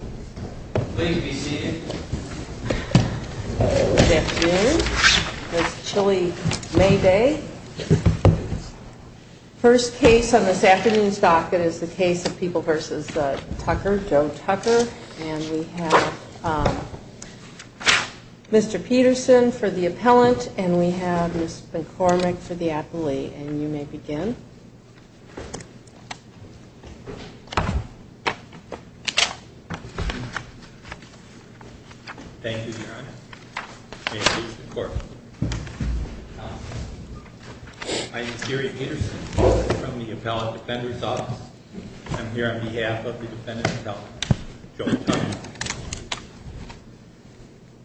Good afternoon. It's chilly May Day. The first case on this afternoon's docket is the case of People v. Tucker, Joe Tucker. And we have Mr. Peterson for the appellant and we have Ms. McCormick for the appellee. And you may begin. Thank you, Your Honor. May it please the Court. I am Gary Peterson from the appellate defender's office. I'm here on behalf of the defendant's appellant, Joe Tucker.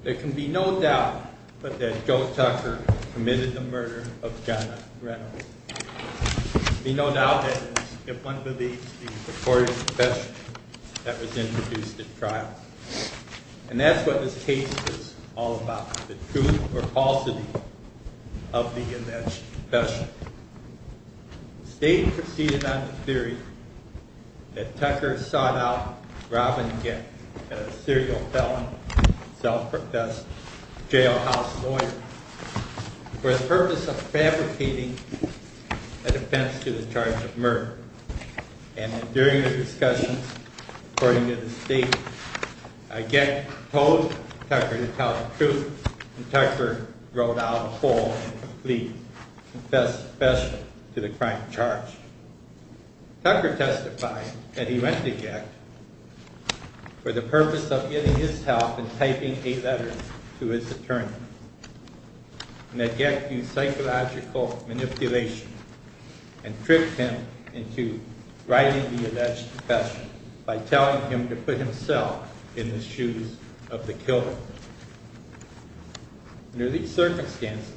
There can be no doubt that Joe Tucker committed the murder of Jenna Reynolds. There can be no doubt if one believes the recorded confession that was introduced at trial. And that's what this case is all about, the truth or falsity of the alleged confession. The state proceeded on the theory that Tucker sought out Robin Gett, a serial felon, self-professed jailhouse lawyer, for the purpose of fabricating a defense to the charge of murder. And during the discussions, according to the state, Gett told Tucker to tell the truth and Tucker wrote out a full and complete confession to the crime charge. Tucker testified that he went to Gett for the purpose of getting his help in typing a letter to his attorney. And that Gett used psychological manipulation and tricked him into writing the alleged confession by telling him to put himself in the shoes of the killer. Under these circumstances,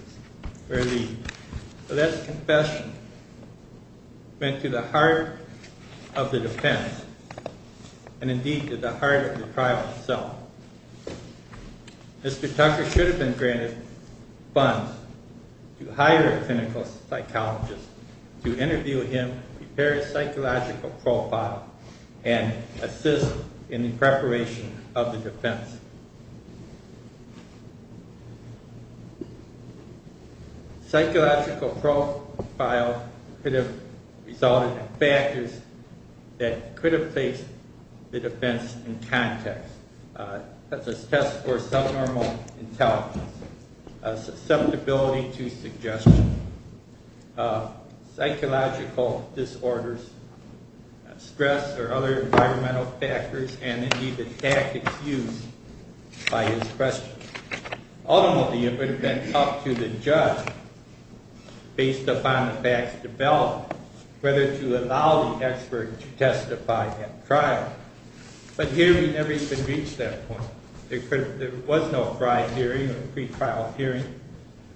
where the alleged confession went to the heart of the defense, and indeed to the heart of the trial itself, Mr. Tucker should have been granted funds to hire a clinical psychologist to interview him, prepare his psychological profile, and assist in the preparation of the defense. Psychological profile could have resulted in factors that could have placed the defense in context, such as tests for subnormal intelligence, susceptibility to suggestion, psychological disorders, stress or other environmental factors, and indeed the tactics used by his questions. Ultimately, it would have been up to the judge, based upon the facts developed, whether to allow the expert to testify at trial. But here we never even reached that point. There was no prior hearing or pre-trial hearing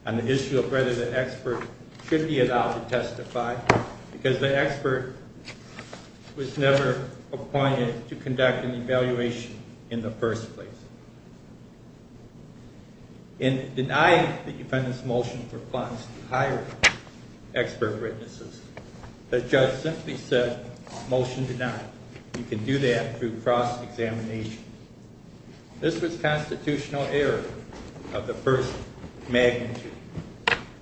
on the issue of whether the expert should be allowed to testify, because the expert was never appointed to conduct an evaluation in the first place. In denying the defendant's motion for funds to hire expert witnesses, the judge simply said, motion denied. You can do that through cross-examination. This was constitutional error of the first magnitude.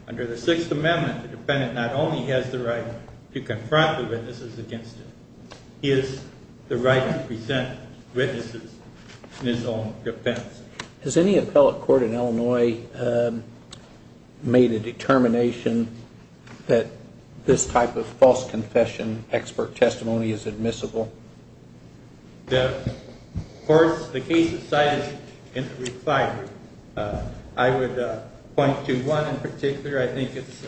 Under the Sixth Amendment, the defendant not only has the right to confront the witnesses against him, he has the right to present witnesses in his own defense. Has any appellate court in Illinois made a determination that this type of false confession expert testimony is admissible? Of course, the case is cited in the reply. I would point to one in particular, I think it's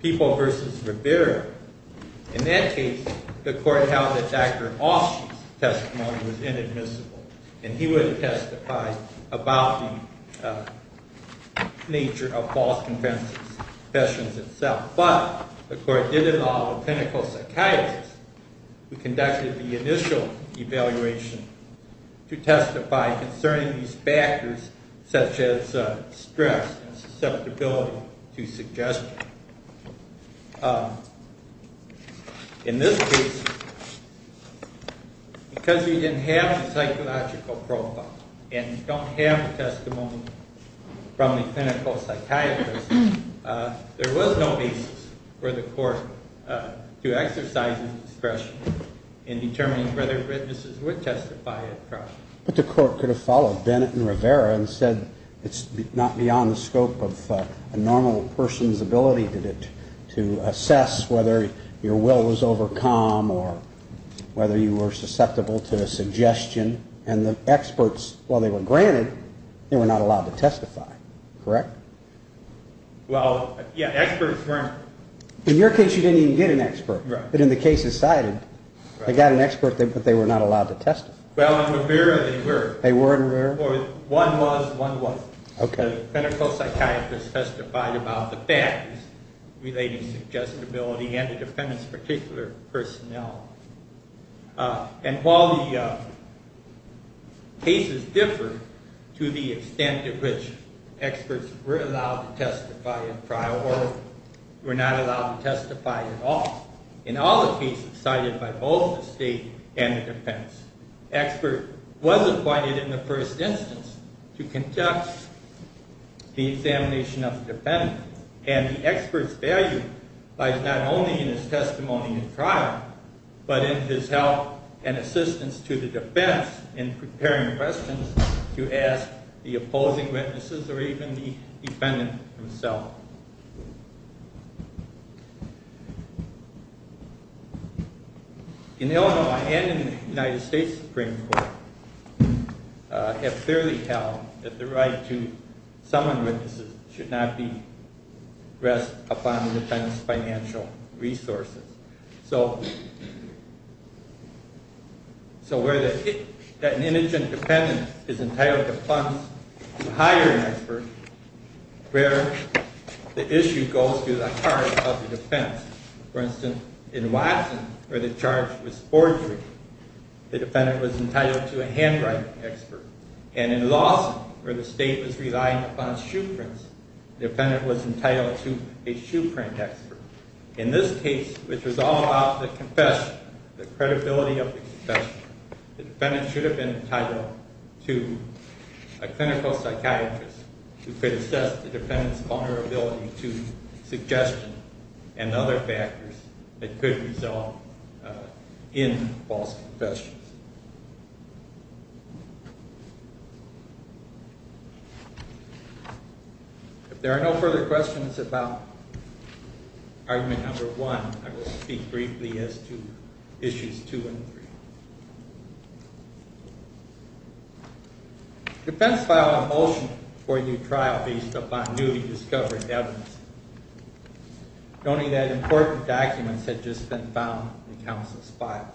People v. Rivera. In that case, the court held that Dr. Osh's testimony was inadmissible, and he would testify about the nature of false confessions itself. But the court did involve a clinical psychiatrist who conducted the initial evaluation to testify concerning these factors such as stress and susceptibility to suggestion. In this case, because you didn't have the psychological profile and you don't have the testimony from the clinical psychiatrist, there was no basis for the court to exercise discretion in determining whether witnesses would testify at trial. But the court could have followed Bennett and Rivera and said it's not beyond the scope of a normal person's ability to assess whether your will was overcome or whether you were susceptible to a suggestion. And the experts, while they were granted, they were not allowed to testify, correct? Well, yeah, experts weren't. In your case, you didn't even get an expert. But in the case that's cited, they got an expert, but they were not allowed to testify. Well, in Rivera they were. They were in Rivera? One was, one wasn't. Okay. The clinical psychiatrist testified about the factors relating to suggestibility and the defendant's particular personnel. And while the cases differ to the extent to which experts were allowed to testify at trial or were not allowed to testify at all, in all the cases cited by both the State and the defendants, expert was appointed in the first instance to conduct the examination of the defendant. And the expert's value lies not only in his testimony at trial, but in his help and assistance to the defendants in preparing questions to ask the opposing witnesses or even the defendant himself. In Illinois and in the United States Supreme Court have clearly held that the right to summon witnesses should not be rest upon the defendant's financial resources. So where an indigent defendant is entitled to funds to hire an expert, where the issue goes to the heart of the defense. For instance, in Watson, where the charge was forgery, the defendant was entitled to a handwriting expert. And in Lawson, where the state was relying upon shoe prints, the defendant was entitled to a shoe print expert. In this case, which was all about the confession, the credibility of the confession, the defendant should have been entitled to a clinical psychiatrist who could assess the defendant's vulnerability to suggestion and other factors that could result in false confessions. If there are no further questions about argument number one, I will speak briefly as to issues two and three. The defense filed a motion for a new trial based upon newly discovered evidence, noting that important documents had just been found in the counsel's files.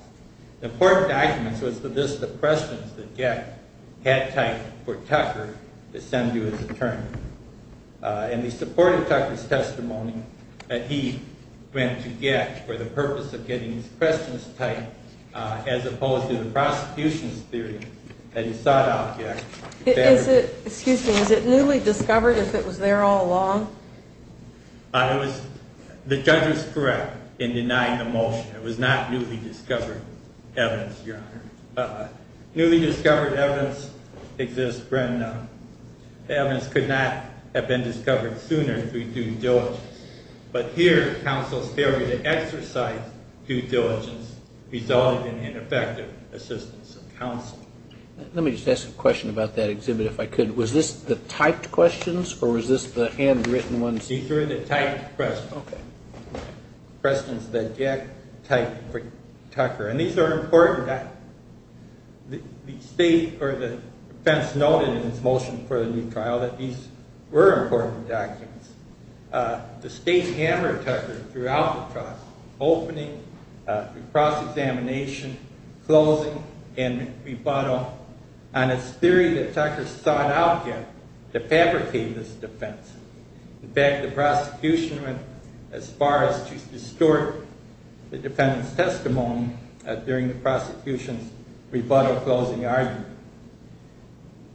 The important documents were the questions that Gett had typed for Tucker to send to his attorney. And he supported Tucker's testimony that he went to Gett for the purpose of getting his questions typed, as opposed to the prosecution's theory that he sought out Gett. Excuse me, was it newly discovered if it was there all along? The judge was correct in denying the motion. It was not newly discovered evidence, Your Honor. Newly discovered evidence exists when the evidence could not have been discovered sooner through due diligence. But here, counsel's failure to exercise due diligence resulted in ineffective assistance of counsel. Let me just ask a question about that exhibit, if I could. Was this the typed questions, or was this the handwritten ones? These were the typed questions. Okay. Questions that Gett typed for Tucker. And these are important documents. The defense noted in its motion for the new trial that these were important documents. The state hammered Tucker throughout the trial, opening, cross-examination, closing, and rebuttal on its theory that Tucker sought out Gett to fabricate this defense. In fact, the prosecution went as far as to distort the defendant's testimony during the prosecution's rebuttal closing argument.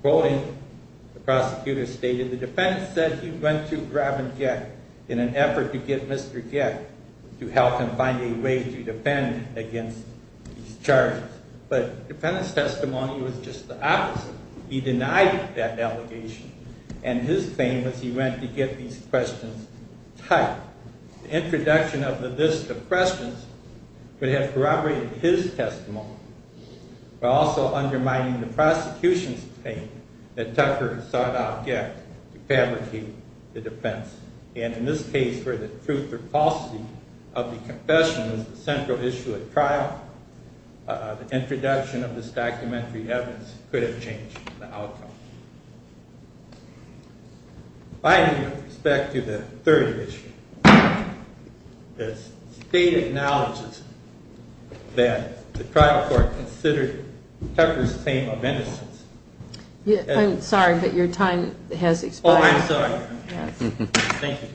Quoting, the prosecutor stated, the defendant said he went to Robin Gett in an effort to get Mr. Gett to help him find a way to defend against these charges. But the defendant's testimony was just the opposite. He denied that allegation, and his thing was he went to get these questions typed. The introduction of the list of questions would have corroborated his testimony, while also undermining the prosecution's claim that Tucker sought out Gett to fabricate the defense. And in this case, where the truth or falsity of the confession was the central issue at trial, the introduction of this documentary evidence could have changed the outcome. I need to go back to the third issue. The state acknowledges that the trial court considered Tucker's claim of innocence. I'm sorry, but your time has expired. Oh, I'm sorry. Thank you.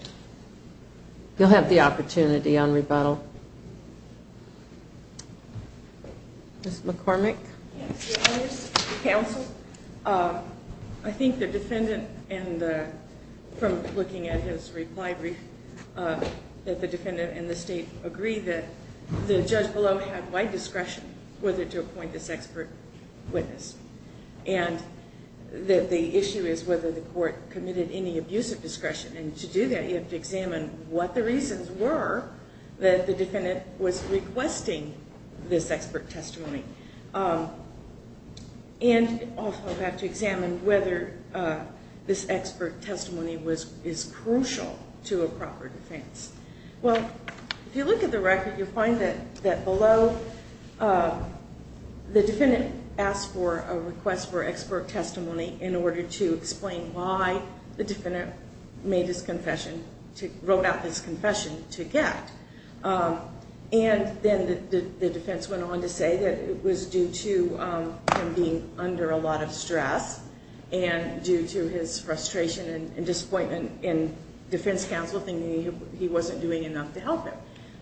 You'll have the opportunity on rebuttal. Ms. McCormick? Counsel, I think the defendant, from looking at his reply brief, that the defendant and the state agree that the judge below had wide discretion whether to appoint this expert witness. And the issue is whether the court committed any abuse of discretion. And to do that, you have to examine what the reasons were that the defendant was requesting this expert testimony. And you also have to examine whether this expert testimony is crucial to a proper defense. Well, if you look at the record, you'll find that below, the defendant asked for a request for expert testimony in order to explain why the defendant wrote out this confession to Gett. And then the defense went on to say that it was due to him being under a lot of stress and due to his frustration and disappointment, and defense counsel thinking he wasn't doing enough to help him.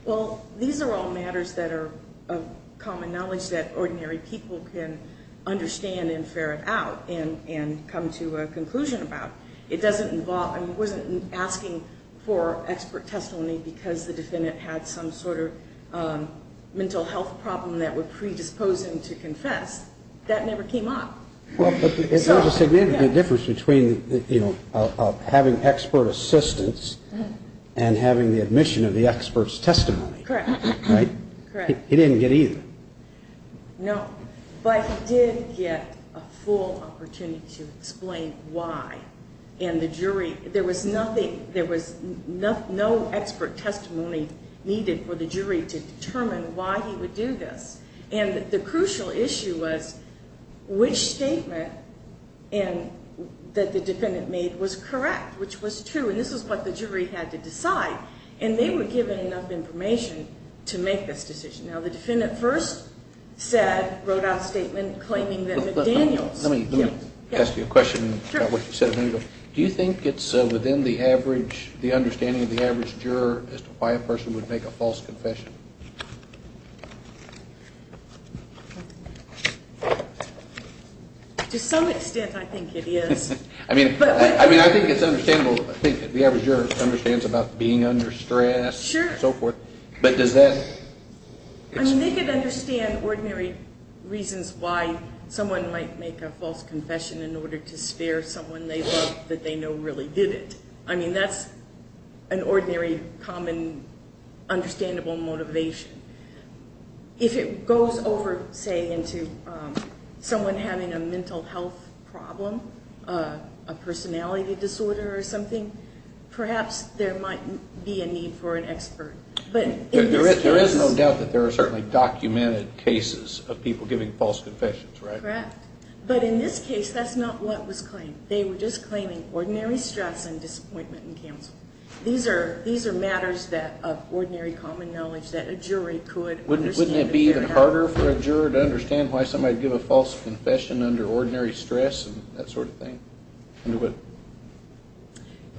Well, these are all matters that are of common knowledge that ordinary people can understand and ferret out and come to a conclusion about. It doesn't involve, he wasn't asking for expert testimony because the defendant had some sort of mental health problem that would predispose him to confess. That never came up. There's a significant difference between having expert assistance and having the admission of the expert's testimony. Correct. He didn't get either. No. But he did get a full opportunity to explain why. And the jury, there was nothing, there was no expert testimony needed for the jury to determine why he would do this. And the crucial issue was which statement that the defendant made was correct, which was true. And this is what the jury had to decide. And they were given enough information to make this decision. Now, the defendant first said, wrote out a statement claiming that McDaniel's. Let me ask you a question about what you said a minute ago. Do you think it's within the understanding of the average juror as to why a person would make a false confession? To some extent, I think it is. I mean, I think it's understandable. I think the average juror understands about being under stress and so forth. Sure. But does that... I mean, they could understand ordinary reasons why someone might make a false confession in order to spare someone they love that they know really did it. I mean, that's an ordinary, common, understandable motivation. If it goes over, say, into someone having a mental health problem, a personality disorder or something, perhaps there might be a need for an expert. There is no doubt that there are certainly documented cases of people giving false confessions, right? Correct. But in this case, that's not what was claimed. They were just claiming ordinary stress and disappointment in counsel. These are matters of ordinary, common knowledge that a jury could understand. Wouldn't it be even harder for a juror to understand why somebody would give a false confession under ordinary stress and that sort of thing?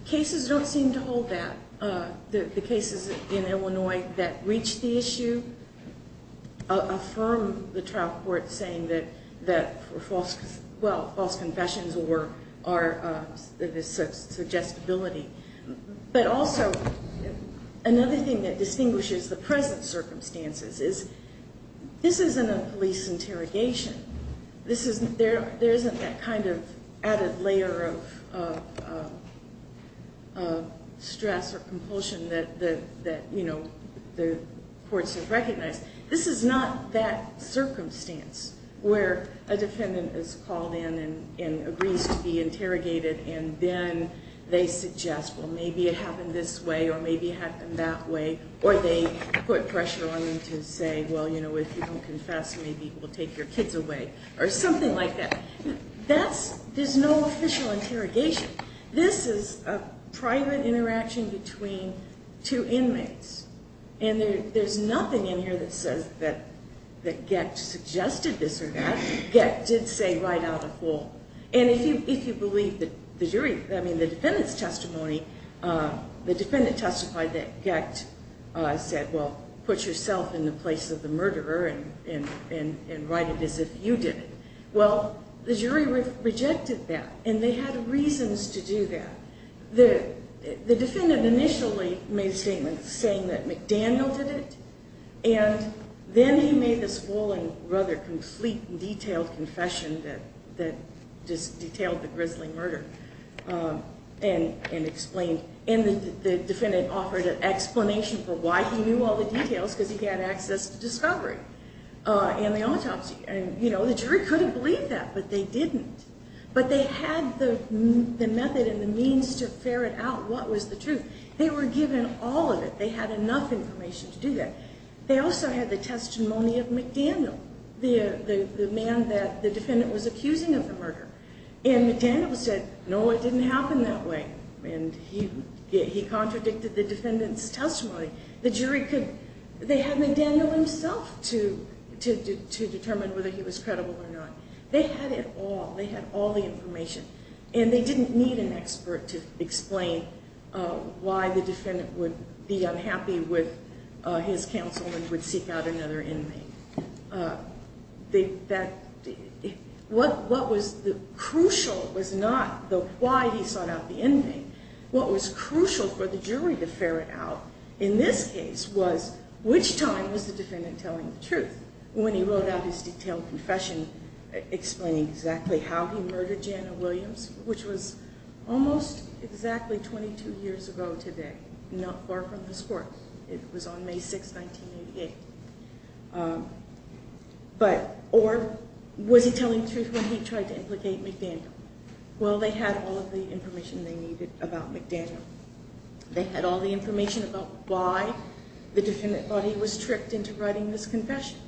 Cases don't seem to hold that. The cases in Illinois that reach the issue affirm the trial court saying that false confessions are a suggestibility. But also, another thing that distinguishes the present circumstances is this isn't a police interrogation. There isn't that kind of added layer of stress or compulsion that the courts have recognized. This is not that circumstance where a defendant is called in and agrees to be interrogated and then they suggest, well, maybe it happened this way or maybe it happened that way, or they put pressure on them to say, well, you know, if you don't confess, maybe we'll take your kids away or something like that. There's no official interrogation. This is a private interaction between two inmates. And there's nothing in here that says that Gecht suggested this or that. Gecht did say right out of court. And if you believe the jury, I mean, the defendant's testimony, the defendant testified that Gecht said, well, put yourself in the place of the murderer and write it as if you did it. Well, the jury rejected that, and they had reasons to do that. The defendant initially made a statement saying that McDaniel did it, and then he made this full and rather complete and detailed confession that just detailed the grisly murder and explained. And the defendant offered an explanation for why he knew all the details, because he had access to discovery and the autopsy. And, you know, the jury couldn't believe that, but they didn't. But they had the method and the means to ferret out what was the truth. They were given all of it. They had enough information to do that. They also had the testimony of McDaniel, the man that the defendant was accusing of the murder. And McDaniel said, no, it didn't happen that way. And he contradicted the defendant's testimony. The jury could – they had McDaniel himself to determine whether he was credible or not. They had it all. They had all the information, and they didn't need an expert to explain why the defendant would be unhappy with his counsel and would seek out another inmate. What was crucial was not why he sought out the inmate. What was crucial for the jury to ferret out in this case was which time was the defendant telling the truth when he wrote out his detailed confession explaining exactly how he murdered Jana Williams, which was almost exactly 22 years ago today, not far from this court. It was on May 6, 1988. But – or was he telling the truth when he tried to implicate McDaniel? Well, they had all of the information they needed about McDaniel. They had all the information about why the defendant thought he was tricked into writing this confession.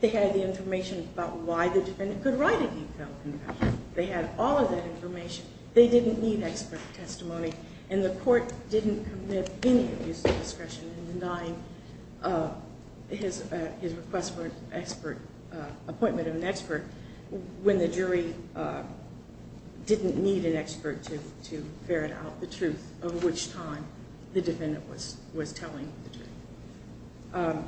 They had the information about why the defendant could write a detailed confession. They had all of that information. They didn't need expert testimony. And the court didn't commit any abuse of discretion in denying his request for an expert – appointment of an expert when the jury didn't need an expert to ferret out the truth of which time the defendant was telling the truth.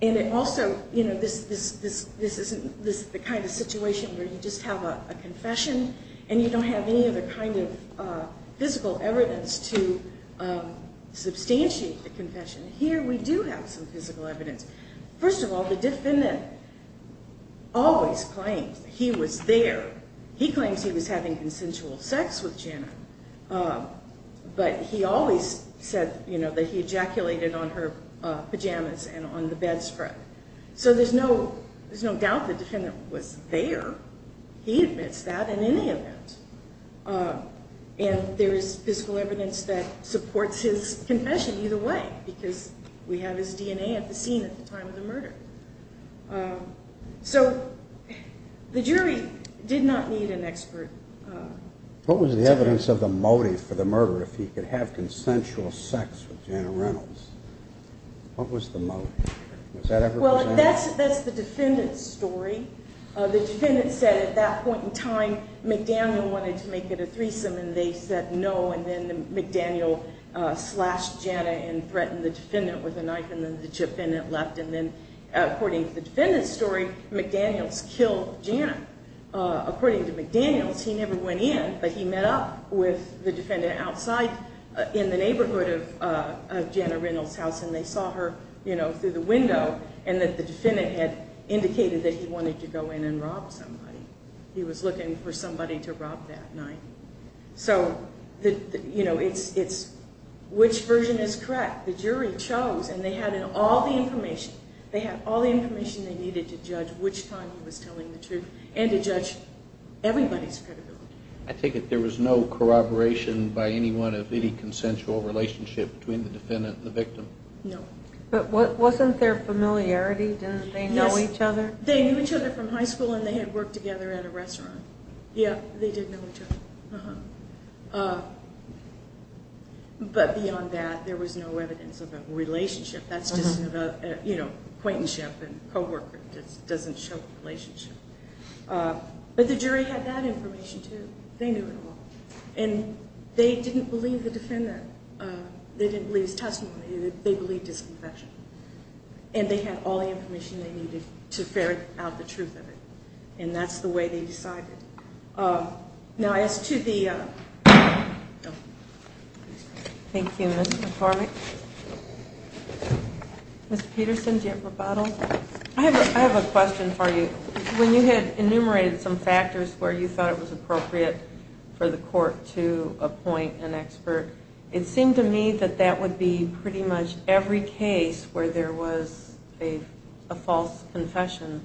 And it also – you know, this isn't the kind of situation where you just have a confession and you don't have any other kind of physical evidence to substantiate the confession. Here we do have some physical evidence. First of all, the defendant always claims he was there. He claims he was having consensual sex with Jana. But he always said, you know, that he ejaculated on her pajamas and on the bedspread. So there's no – there's no doubt the defendant was there. He admits that in any event. And there is physical evidence that supports his confession either way because we have his DNA at the scene at the time of the murder. So the jury did not need an expert. What was the evidence of the motive for the murder if he could have consensual sex with Jana Reynolds? What was the motive? Well, that's the defendant's story. The defendant said at that point in time McDaniel wanted to make it a threesome, and they said no. And then McDaniel slashed Jana and threatened the defendant with a knife, and then the defendant left. And then according to the defendant's story, McDaniels killed Jana. According to McDaniels, he never went in, but he met up with the defendant outside in the neighborhood of Jana Reynolds' house, and they saw her, you know, through the window, and that the defendant had indicated that he wanted to go in and rob somebody. He was looking for somebody to rob that night. So, you know, it's which version is correct. The jury chose, and they had all the information. They had all the information they needed to judge which time he was telling the truth and to judge everybody's credibility. I take it there was no corroboration by anyone of any consensual relationship between the defendant and the victim? No. But wasn't there familiarity? Didn't they know each other? Yes. They knew each other from high school, and they had worked together at a restaurant. Yeah, they did know each other. But beyond that, there was no evidence of a relationship. That's just, you know, acquaintanceship and co-worker doesn't show relationship. But the jury had that information, too. They knew it all. And they didn't believe the defendant. They didn't believe his testimony. They believed his confession. And they had all the information they needed to ferret out the truth of it, and that's the way they decided. Now as to the other. Thank you, Ms. McCormick. Ms. Peterson, do you have a rebuttal? I have a question for you. When you had enumerated some factors where you thought it was appropriate for the court to appoint an expert, it seemed to me that that would be pretty much every case where there was a false confession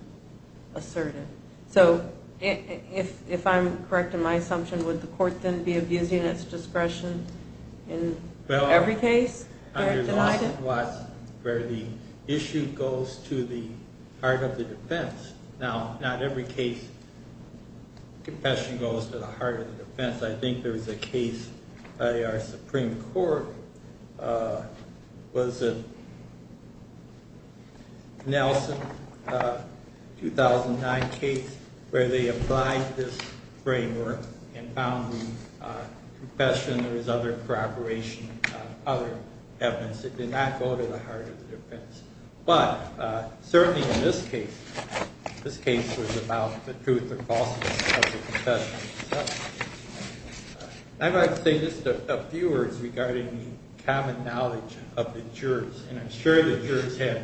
asserted. So if I'm correct in my assumption, would the court then be abusing its discretion in every case? Well, under the law, where the issue goes to the heart of the defense. Now, not every case, confession goes to the heart of the defense. I think there was a case by our Supreme Court. Was it Nelson, 2009 case, where they applied this framework and found in confession there was other corroboration of other evidence. It did not go to the heart of the defense. But certainly in this case, this case was about the truth or falseness of the confession. I'd like to say just a few words regarding the common knowledge of the jurors, and I'm sure the jurors have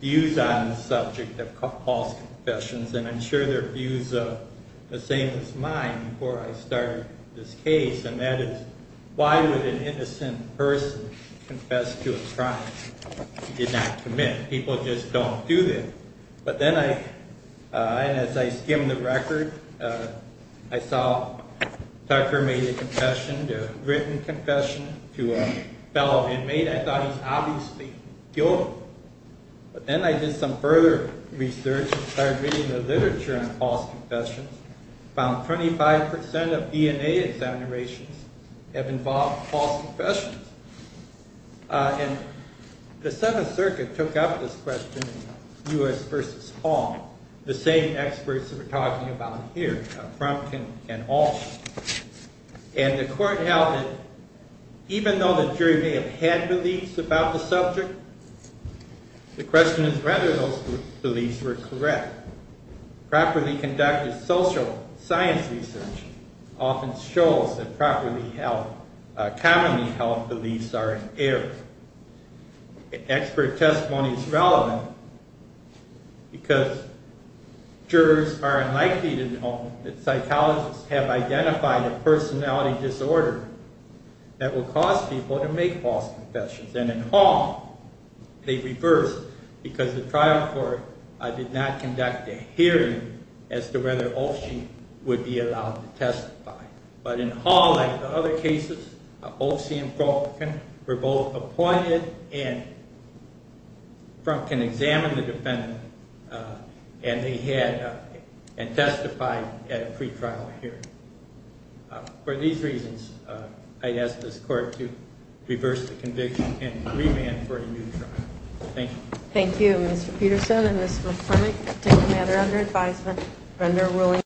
views on the subject of false confessions, and I'm sure their views are the same as mine before I started this case, and that is why would an innocent person confess to a crime if he did not commit? People just don't do that. And as I skimmed the record, I saw Tucker made a written confession to a fellow inmate. I thought he's obviously guilty. But then I did some further research and started reading the literature on false confessions and found 25% of DNA examinations have involved false confessions. And the Seventh Circuit took up this question, U.S. v. Hall, the same experts that we're talking about here, Frumkin and Hall. And the court held that even though the jury may have had beliefs about the subject, the question is whether those beliefs were correct. Properly conducted social science research often shows that commonly held beliefs are erroneous. Expert testimony is relevant because jurors are unlikely to know that psychologists have identified a personality disorder that will cause people to make false confessions. And in Hall, they reversed because the trial court did not conduct a hearing as to whether Olshee would be allowed to testify. But in Hall, like the other cases, Olshee and Frumkin were both appointed and Frumkin examined the defendant and testified at a pretrial hearing. For these reasons, I ask this court to reverse the conviction and remand for a new trial. Thank you. Thank you, Mr. Peterson and Ms. McCormick. The case is submitted under advisement under ruling.